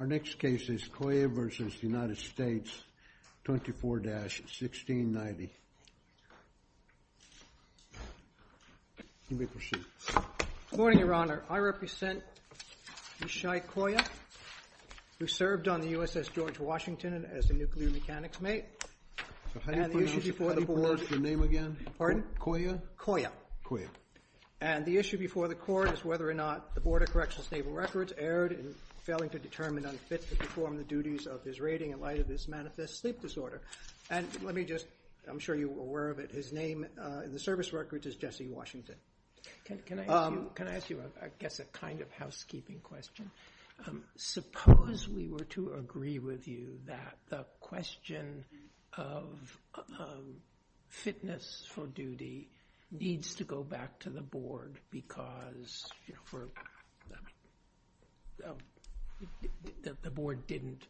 24-1690. Let me proceed. Good morning, Your Honor. I represent Mishai Coye, who served on the USS George Washington as a nuclear mechanics mate. So how do you pronounce your name again? Pardon? Coye? Coye. And the issue before the Court is whether or not the Board of Corrections Naval Records erred in failing to do its job. I am determined unfit to perform the duties of this rating in light of this manifest sleep disorder. And let me just, I'm sure you're aware of it, his name in the service records is Jesse Washington. Can I ask you, I guess, a kind of housekeeping question? Suppose we were to agree with you that the question of fitness for duty needs to go back to the Board because the Board didn't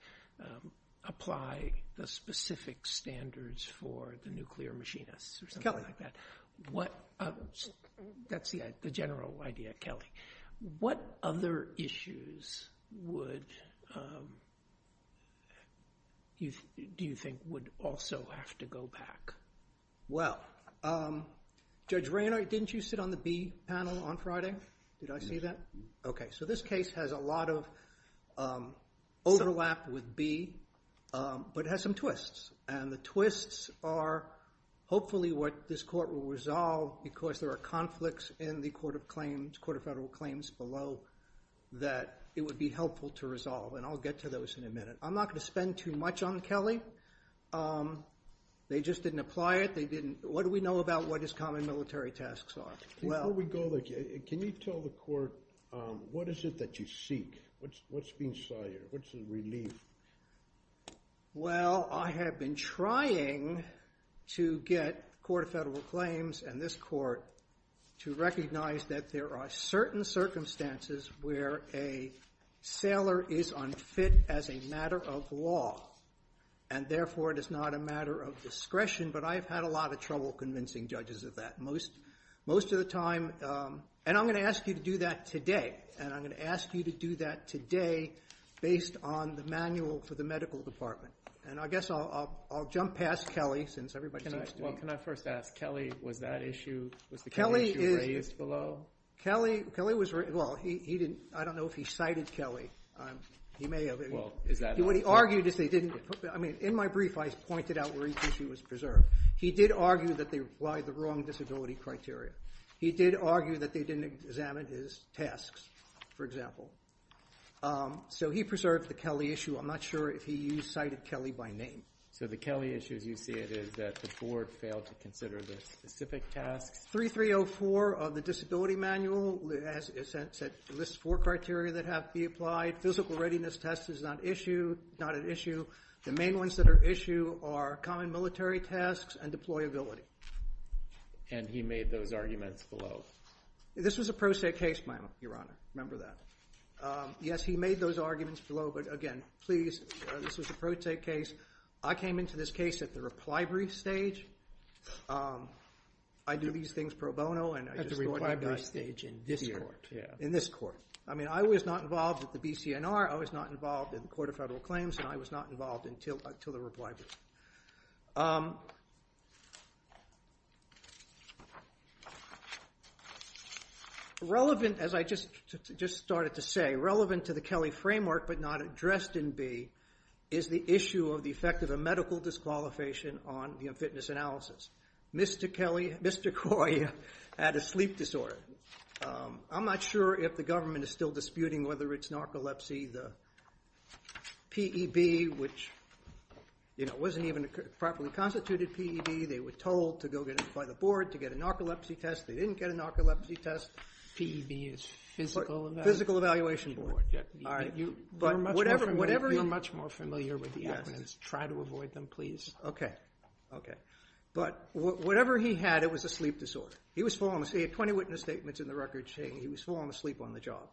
apply the specific standards for the nuclear machinists or something like that. That's the general idea, Kelly. What other issues would, do you think, would also have to go back? Well, Judge Raynard, didn't you sit on the B panel on Friday? Did I see that? Okay. So this case has a lot of overlap with B, but it has some twists. And the twists are hopefully what this Court will resolve because there are conflicts in the Court of Claims, Court of Federal Claims below that it would be helpful to resolve. And I'll get to those in a minute. I'm not going to spend too much on Kelly. They just didn't apply it. What do we know about what his common military tasks are? Before we go there, can you tell the Court what is it that you seek? What's being sired? What's the relief? Well, I have been trying to get the Court of Federal Claims and this Court to recognize that there are certain circumstances where a sailor is unfit as a matter of law. And therefore, it is not a matter of discretion. But I have had a lot of trouble convincing judges of that. Most of the time, and I'm going to ask you to do that today. And I'm going to ask you to do that today based on the manual for the medical department. And I guess I'll jump past Kelly since everybody seems to be. Well, can I first ask, Kelly, was that issue, was the Kelly issue raised below? Kelly was, well, he didn't, I don't know if he cited Kelly. He may have. Well, is that. What he argued is they didn't. I mean, in my brief, I pointed out where each issue was preserved. He did argue that they applied the wrong disability criteria. He did argue that they didn't examine his tasks, for example. So he preserved the Kelly issue. I'm not sure if he cited Kelly by name. So the Kelly issue, as you see it, is that the board failed to consider the specific tasks. 3304 of the disability manual lists four criteria that have to be applied. Physical readiness test is not an issue. The main ones that are issue are common military tasks and deployability. And he made those arguments below. This was a pro se case, Your Honor. Remember that. Yes, he made those arguments below. But again, please, this was a pro se case. I came into this case at the reply brief stage. I do these things pro bono. At the reply brief stage in this court. In this court. I mean, I was not involved with the BCNR. I was not involved in the Court of Federal Claims. And I was not involved until the reply brief. Relevant, as I just started to say, relevant to the Kelly framework, but not addressed in B, is the issue of the effect of a medical disqualification on the fitness analysis. Mr. Kelly, Mr. Coy had a sleep disorder. I'm not sure if the government is still disputing whether it's narcolepsy, the P.E.B., which, you know, wasn't even a properly constituted P.E.B. They were told to go get it by the board to get a narcolepsy test. They didn't get a narcolepsy test. P.E.B. is Physical Evaluation Board. All right. You're much more familiar with the acronyms. Try to avoid them, please. Okay. Okay. But whatever he had, it was a sleep disorder. He had 20 witness statements in the record stating he was falling asleep on the job.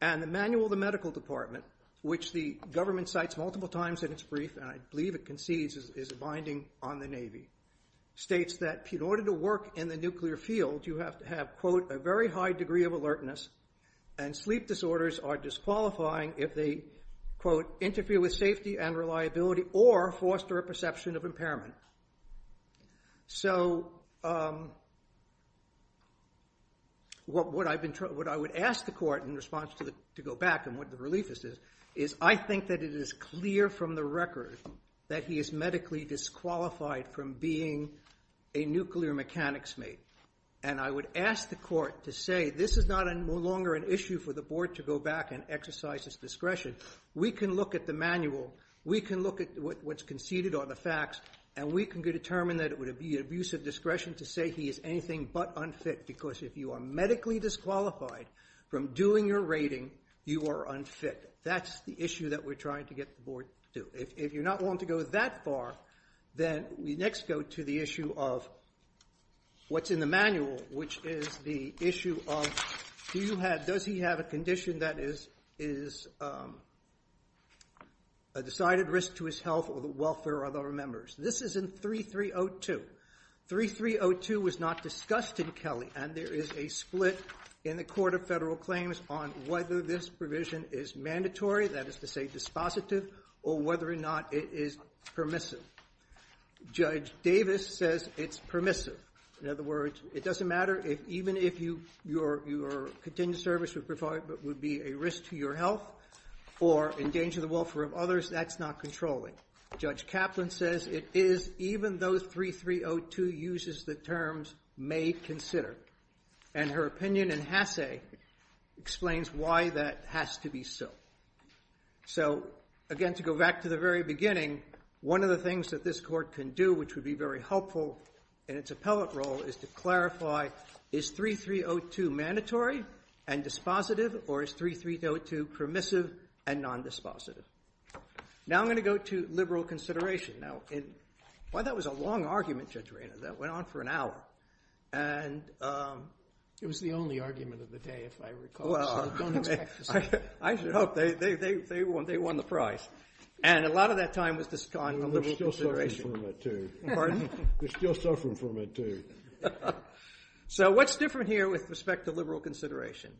And the manual of the medical department, which the government cites multiple times in its brief, and I believe it concedes is a binding on the Navy, states that in order to work in the nuclear field, you have to have, quote, a very high degree of alertness, and sleep disorders are disqualifying if they, quote, interfere with safety and reliability or foster a perception of impairment. So what I would ask the court in response to go back and what the relief is, is I think that it is clear from the record that he is medically disqualified from being a nuclear mechanics mate. And I would ask the court to say this is no longer an issue for the board to go back and exercise its discretion. We can look at the manual. We can look at what's conceded on the facts, and we can determine that it would be an abuse of discretion to say he is anything but unfit because if you are medically disqualified from doing your rating, you are unfit. That's the issue that we're trying to get the board to do. If you're not willing to go that far, then we next go to the issue of what's in the manual, which is the issue of does he have a condition that is a decided risk to his health or the welfare of other members. This is in 3302. 3302 was not discussed in Kelly, and there is a split in the Court of Federal Claims on whether this provision is mandatory, that is to say dispositive, or whether or not it is permissive. Judge Davis says it's permissive. In other words, it doesn't matter even if your continued service would be a risk to your health or endanger the welfare of others. That's not controlling. Judge Kaplan says it is even though 3302 uses the terms may consider. And her opinion in Hasse explains why that has to be so. So, again, to go back to the very beginning, one of the things that this Court can do, which would be very helpful in its appellate role, is to clarify is 3302 mandatory and dispositive, or is 3302 permissive and nondispositive? Now I'm going to go to liberal consideration. Now, while that was a long argument, Judge Rayner, that went on for an hour, and... It was the only argument of the day, if I recall. I should hope they won the prize. And a lot of that time was gone from liberal consideration. They're still suffering from it, too. So what's different here with respect to liberal consideration?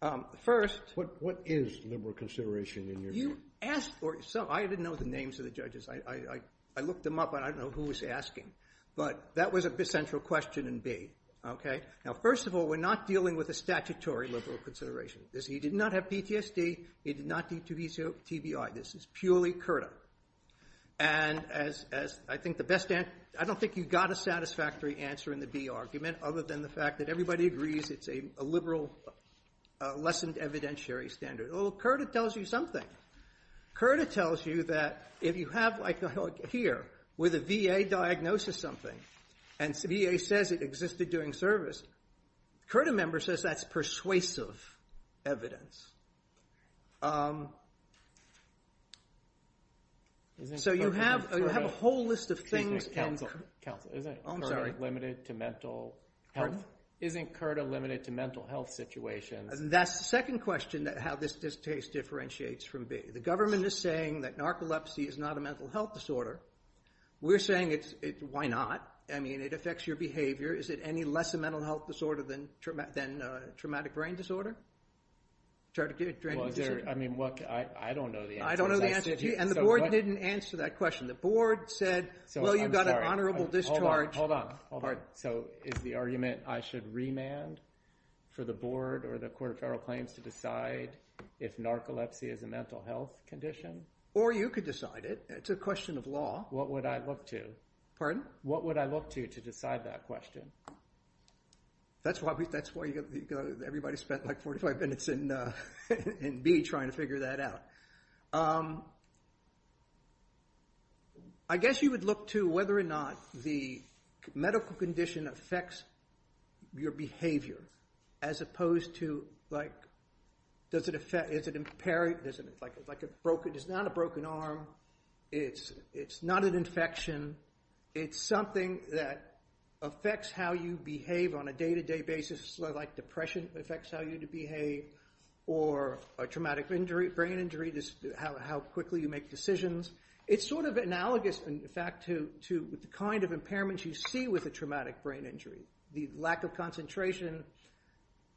What is liberal consideration in your view? You asked for it. I didn't know the names of the judges. I looked them up, and I don't know who was asking. But that was a central question in B. Now, first of all, we're not dealing with a statutory liberal consideration. He did not have PTSD, he did not need to be to TBI. This is purely CURTA. And as I think the best answer... I don't think you got a satisfactory answer in the B argument, other than the fact that everybody agrees it's a liberal, lessened evidentiary standard. Well, CURTA tells you something. CURTA tells you that if you have, like here, with a VA diagnosis something, and VA says it existed during service, CURTA member says that's persuasive evidence. So you have a whole list of things... Counsel, isn't CURTA limited to mental health? Isn't CURTA limited to mental health situations? That's the second question, how this distaste differentiates from B. The government is saying that narcolepsy is not a mental health disorder. We're saying it's... why not? I mean, it affects your behavior. Is it any less a mental health disorder than traumatic brain disorder? I don't know the answer. And the board didn't answer that question. The board said, well, you've got an honorable discharge. Hold on, hold on. So is the argument I should remand for the board or the Court of Federal Claims to decide if narcolepsy is a mental health condition? Or you could decide it. It's a question of law. What would I look to? Pardon? What would I look to to decide that question? That's why everybody spent, like, 45 minutes in B trying to figure that out. I guess you would look to whether or not the medical condition affects your behavior as opposed to, like, does it affect... Does it impair... It's not a broken arm. It's not an infection. It's something that affects how you behave on a day-to-day basis, like depression affects how you behave, or a traumatic brain injury, how quickly you make decisions. It's sort of analogous, in fact, to the kind of impairments you see with a traumatic brain injury, the lack of concentration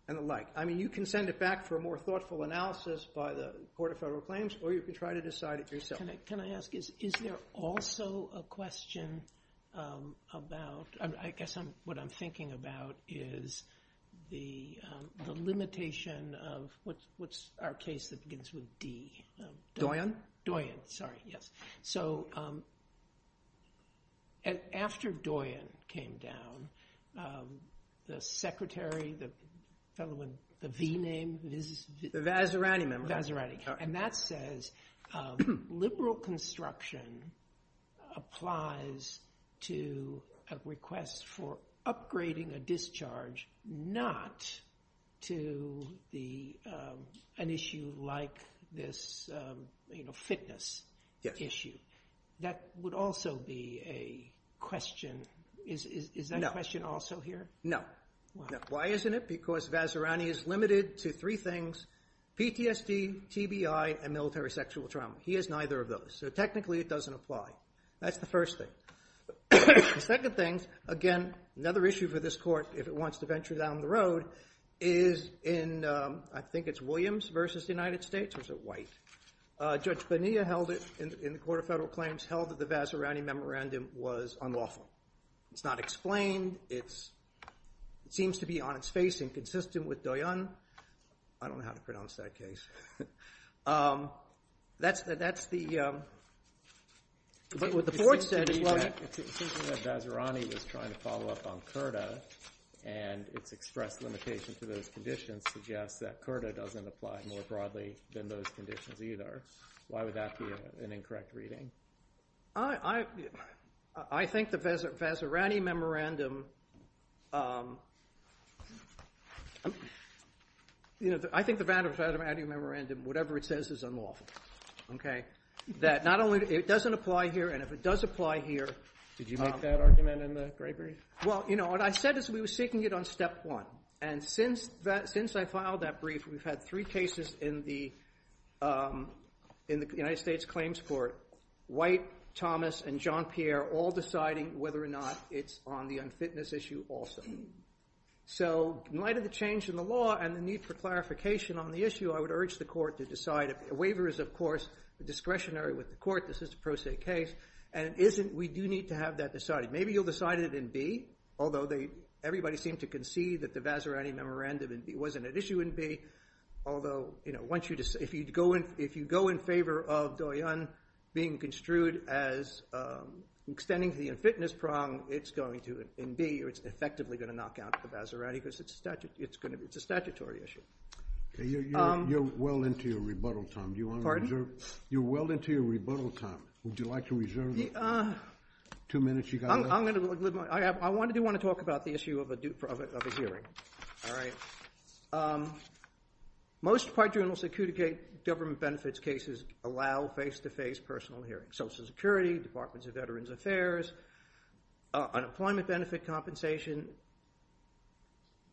and the like. I mean, you can send it back for a more thoughtful analysis by the Court of Federal Claims, or you can try to decide it yourself. Can I ask, is there also a question about... I guess what I'm thinking about is the limitation of... What's our case that begins with D? Doyon? Doyon, sorry, yes. So after Doyon came down, the secretary, the fellow with the V name... The Vazirani member. Vazirani, and that says liberal construction applies to a request for upgrading a discharge not to an issue like this fitness issue. That would also be a question. Is that a question also here? No. Why isn't it? Because Vazirani is limited to three things. PTSD, TBI, and military sexual trauma. He has neither of those, so technically it doesn't apply. That's the first thing. The second thing, again, another issue for this Court, if it wants to venture down the road, is in I think it's Williams versus the United States, or is it White? Judge Bonilla held it in the Court of Federal Claims, held that the Vazirani memorandum was unlawful. It's not explained. It seems to be on its face inconsistent with Doyon. I don't know how to pronounce that case. That's the... But what the Court said is... It seems to me that Vazirani was trying to follow up on CURTA, and its express limitation to those conditions suggests that CURTA doesn't apply more broadly than those conditions either. Why would that be an incorrect reading? I think the Vazirani memorandum I think the Vazirani memorandum, whatever it says, is unlawful. It doesn't apply here, and if it does apply here... Did you make that argument in the Gray brief? Well, you know, what I said is we were seeking it on Step 1, and since I filed that brief, we've had three cases in the United States Claims Court. White, Thomas, and Jean-Pierre all deciding whether or not it's on the unfitness issue also. So, in light of the change in the law and the need for clarification on the issue, I would urge the Court to decide. A waiver is, of course, discretionary with the Court. This is a pro se case, and we do need to have that decided. Maybe you'll decide it in B, although everybody seemed to concede that the Vazirani memorandum wasn't at issue in B. Although, you know, if you go in favor of being construed as extending to the unfitness prong, it's going to, in B, it's effectively going to knock out the Vazirani because it's a statutory issue. You're well into your rebuttal time. Pardon? You're well into your rebuttal time. Would you like to reserve the two minutes you've got left? I do want to talk about the issue of a hearing. Most quadrennial security government benefits cases allow face-to-face personal hearings. Social Security, Departments of Veterans Affairs, unemployment benefit compensation.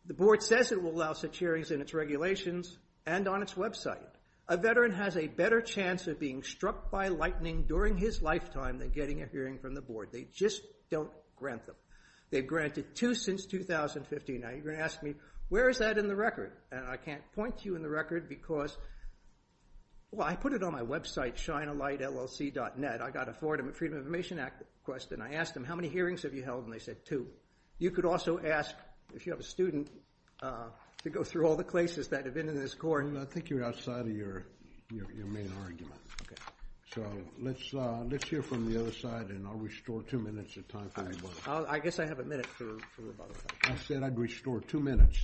The Board says it will allow such hearings in its regulations and on its website. A veteran has a better chance of being struck by lightning during his lifetime than getting a hearing from the Board. They just don't grant them. They've granted two since 2015. Now, you're going to ask me, where is that in the record? And I can't point to you in the record because well, I put it on my website, ChinaLightLLC.net. I got a Florida Freedom of Information Act question. I asked them, how many hearings have you held? And they said, two. You could also ask, if you have a student, to go through all the places that have been in this court. I think you're outside of your main argument. So, let's hear from the other side and I'll restore two minutes of time for rebuttal. I guess I have a minute for rebuttal. I said I'd restore two minutes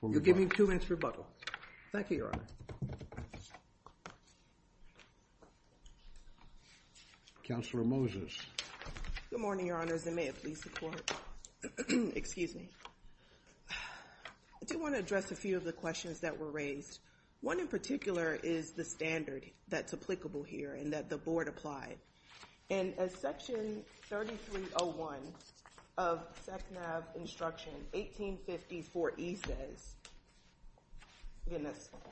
for rebuttal. You'll give me two minutes for rebuttal. Thank you, Your Honor. Counselor Moses. Good morning, Your Honors, and may it please the Court. Excuse me. I do want to address a few of the questions that were raised. One in particular is the standard that's applicable here and that the Board applied. And as section 3301 of SECNAV instruction 1854E says,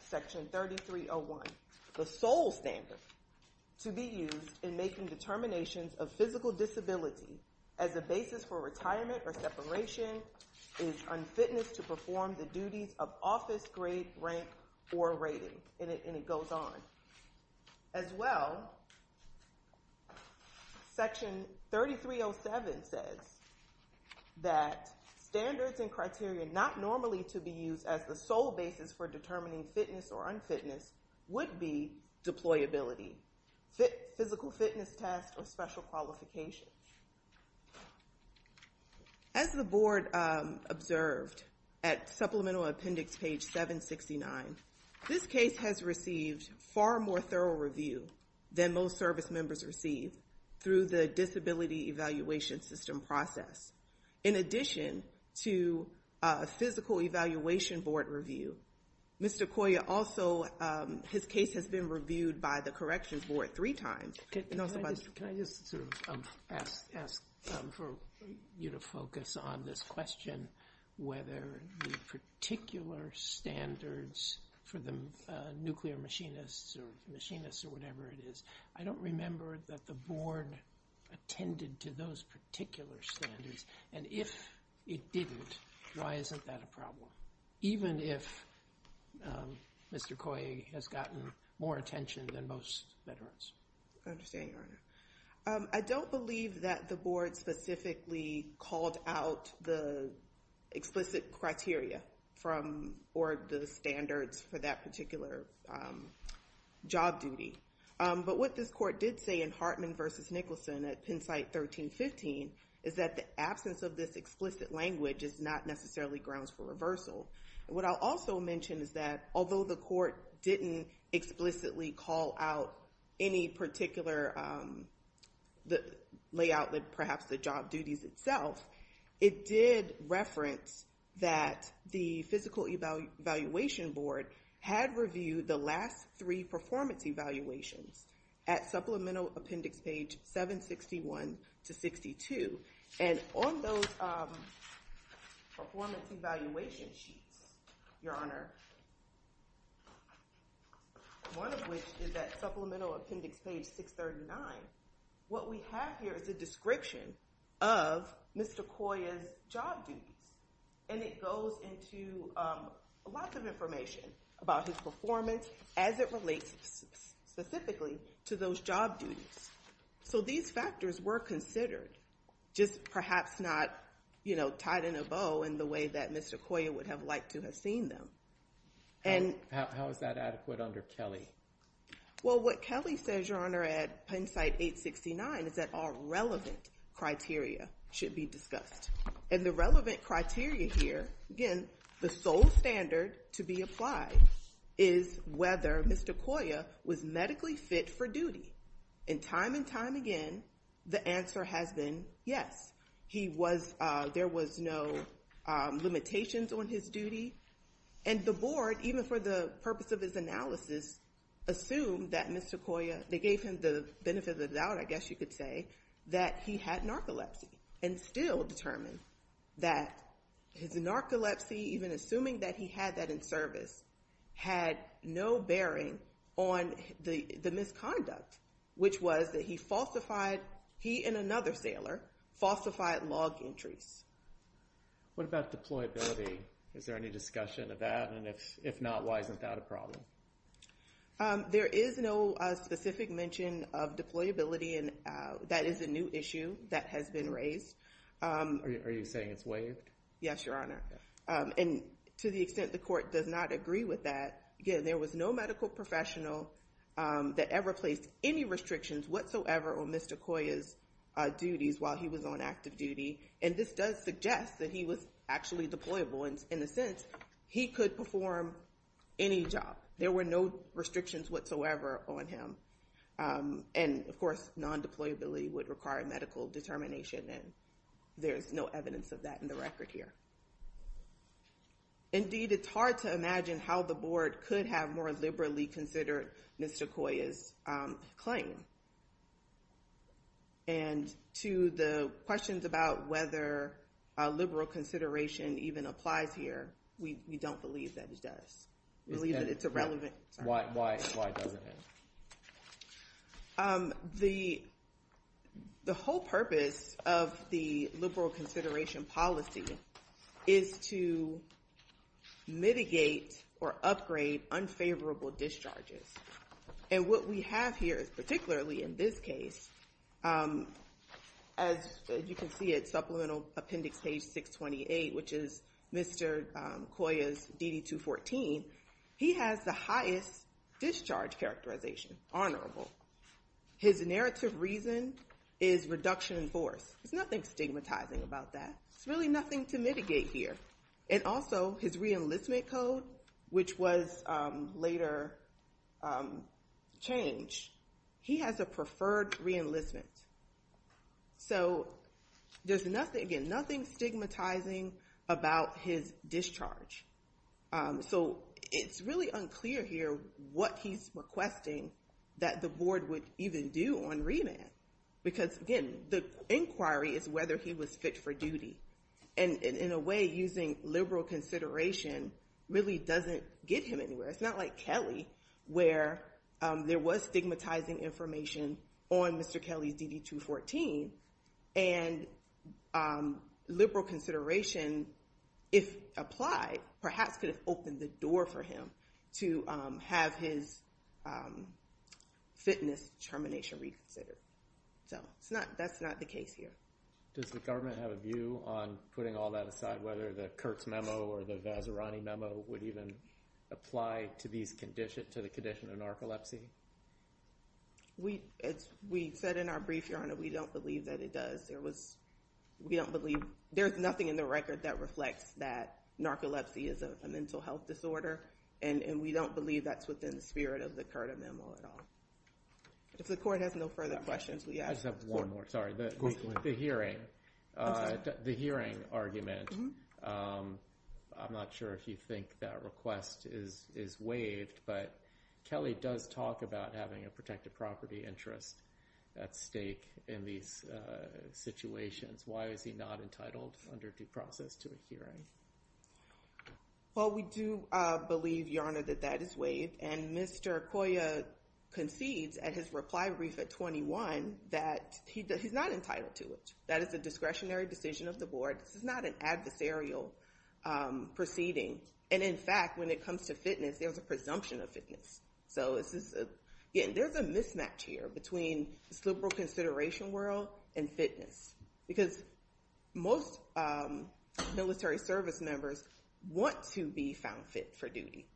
section 3301, the sole standard to be used in making determinations of physical disability as a basis for retirement or separation is unfitnessed to perform the duties of office grade, rank, or rating. And it goes on. As well, section 3307 says that standards and criteria not normally to be used as the sole basis for determining fitness or unfitness would be deployability, physical fitness test, or special qualification. As the Board observed at supplemental appendix page 769, this case has received far more thorough review than most service members receive through the disability evaluation system process. In addition to physical evaluation board review, Mr. Coya also, his case has been reviewed by the corrections board three times. Can I just ask for you to focus on this question, whether the particular standards for the nuclear machinists or machinists or whatever it is, I don't remember that the Board attended to those particular standards. And if it didn't, why isn't that a problem? Even if Mr. Coya has gotten more attention than most veterans. I understand, Your Honor. I don't believe that the Board specifically called out the explicit criteria or the standards for that particular job duty. But what this Court did say in Hartman v. Nicholson at PennSite 1315 is that the absence of this explicit language is not necessarily grounds for reversal. What I'll also mention is that although the Court didn't explicitly call out any particular layout that perhaps the job duties itself, it did reference that the physical evaluation board had reviewed the last three performance evaluations at Supplemental Appendix page 761 to 62. And on those performance evaluation sheets, Your Honor, one of which is at Supplemental Appendix page 639, what we have here is a description of Mr. Coya's job duties. And it goes into lots of information about his performance as it relates specifically to those job duties. So these factors were considered just perhaps not tied in a bow in the way that Mr. Coya would have liked to have seen them. How is that adequate under Kelly? Well, what Kelly says, Your Honor, at PennSite 869 is that all relevant criteria should be discussed. And the relevant criteria here, again, the sole standard to be applied is whether Mr. Coya was medically fit for duty. And time and time again, the answer has been yes. He was, there was no limitations on his duty. And the board, even for the purpose of his analysis, assumed that Mr. Coya, they gave him the benefit of the doubt, I guess you could say, that he had narcolepsy and still determined that his narcolepsy, even assuming that he had that in service, had no bearing on the misconduct, which was that he falsified, he and another sailor, falsified log entries. What about deployability? Is there any discussion of that? And if not, why isn't that a problem? There is no specific mention of deployability and that is a new issue that has been raised. Are you saying it's waived? Yes, Your Honor. And to the extent the court does not agree with that, again, there was no medical professional that ever placed any restrictions whatsoever on Mr. Coya's duties while he was on active duty. And this does suggest that he was actually deployable in the sense he could perform any job. There were no restrictions whatsoever on him. And of course, non-deployability would require medical determination and there's no evidence of that in the record here. Indeed, it's hard to imagine how the Board could have more liberally considered Mr. Coya's claim. And to the questions about whether a liberal consideration even applies here, we don't believe that it does. We believe that it's irrelevant. Why doesn't it? The whole purpose of the liberal consideration policy is to mitigate or upgrade unfavorable discharges. And what we have here, particularly in this case, as you can see at Supplemental Appendix Page 628, which is Mr. Coya's DD-214, he has the highest discharge characterization, honorable. His narrative reason is reduction in force. There's nothing stigmatizing about that. There's really nothing to mitigate here. And also, his re-enlistment code, which was later changed, he has a preferred re-enlistment. So, there's nothing, again, nothing stigmatizing about his discharge. So, it's really unclear here what he's requesting that the board would even do on remand. Because, again, the inquiry is whether he was fit for duty. And, in a way, using liberal consideration really doesn't get him anywhere. It's not like Kelly, where there was stigmatizing information on Mr. Kelly's DD-214, and liberal consideration, if applied, perhaps could have opened the door for him to have his fitness determination reconsidered. So, that's not the case here. Does the government have a view on putting all that aside, whether the Kurtz Memo or the Vazirani Memo would even apply to the condition of narcolepsy? We said in our brief, Your Honor, we don't believe that it does. There's nothing in the record that reflects that narcolepsy is a mental health disorder. And we don't believe that's within the spirit of the Kurtz Memo at all. If the Court has no further questions, we ask the Court to leave. The hearing argument, I'm not sure if you think that request is waived, but Kelly does talk about having a protected property interest at stake in these situations. Why is he not entitled under due process to a hearing? Well, we do believe, Your Honor, that that is waived. And Mr. Coya concedes at his reply brief at 21 that he's not entitled to it. That is a discretionary decision of the Board. This is not an adversarial proceeding. And in fact, when it comes to fitness, there's a presumption of fitness. So, there's a mismatch here between this liberal consideration world and fitness. Because most military service members want to be found fit for duty.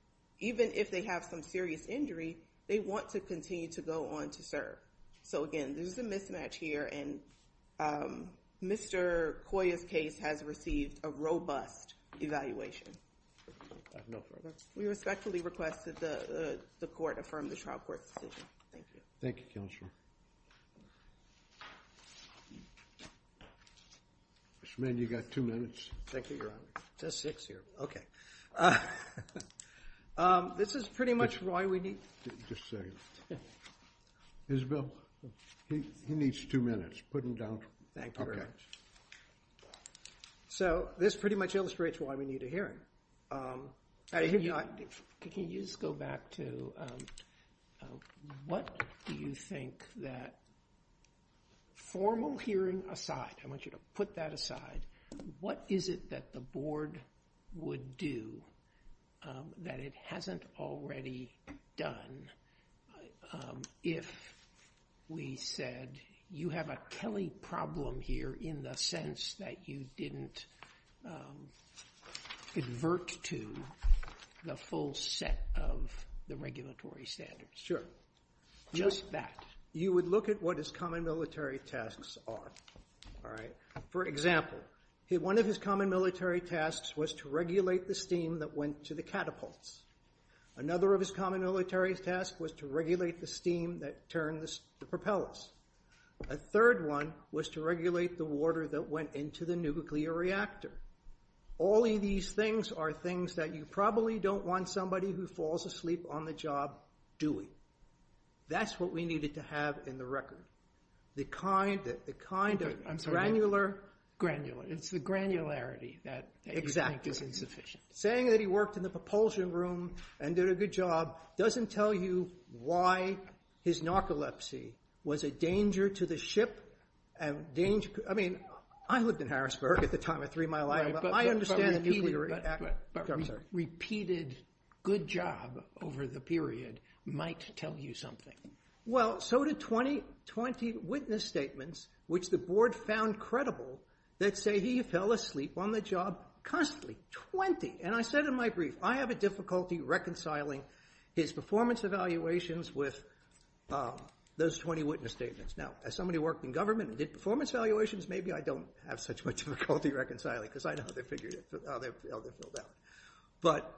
Even if they have some serious injury, they want to continue to go on to serve. So again, there's a mismatch here and Mr. Coya's case has received a robust evaluation. We respectfully request that the Court affirm the trial court's decision. Thank you. Thank you, Counselor. Mr. Manning, you've got two minutes. Thank you, Your Honor. It says six here. Okay. This is pretty much why we need... Just a second. Isabel, he needs two minutes. Thank you very much. So, this pretty much illustrates why we need a hearing. Can you just go back to what do you think that formal hearing aside, I want you to put that aside, what is it that the Board would do that it hasn't already done if we said you have a Kelly problem here in the sense that you didn't advert to the full set of the regulatory standards? Sure. Just that. You would look at what his common military tasks are. All right. For example, one of his common military tasks was to regulate the steam that went to the catapults. Another of his common military tasks was to regulate the steam that turned the propellers. A third one was to regulate the water that went into the nuclear reactor. All of these things are things that you probably don't want somebody who falls asleep on the job doing. That's what we needed to have in the record. The kind of granular... It's the granularity that you think is insufficient. Exactly. Saying that he worked in the propulsion room and did a good job doesn't tell you why his narcolepsy was a danger to the ship. I mean, I lived in Harrisburg at the time of Three Mile Island, but I understand... Repeated good job over the period might tell you something. Well, so did 20 witness statements, which the board found credible, that say he fell asleep on the job constantly. Twenty. And I said in my brief, I have a difficulty reconciling his performance evaluations with those 20 witness statements. Now, as somebody who worked in government and did performance evaluations, maybe I don't have such a difficulty reconciling because I know they're figured out. Well, they're filled out. But...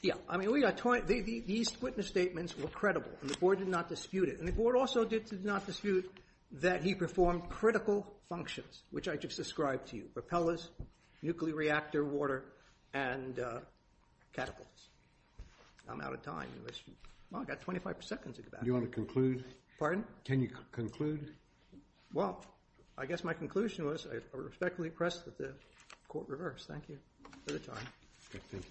Yeah. I mean, we got 20... These witness statements were credible and the board did not dispute it. And the board also did not dispute that he performed critical functions, which I just described to you. Propellers, nuclear reactor, water, and catapults. I'm out of time. Well, I've got 25 seconds at the back. Do you want to conclude? Pardon? Can you conclude? Well, I guess my conclusion was I respectfully press that the court reverse. Thank you for the time. Thank you.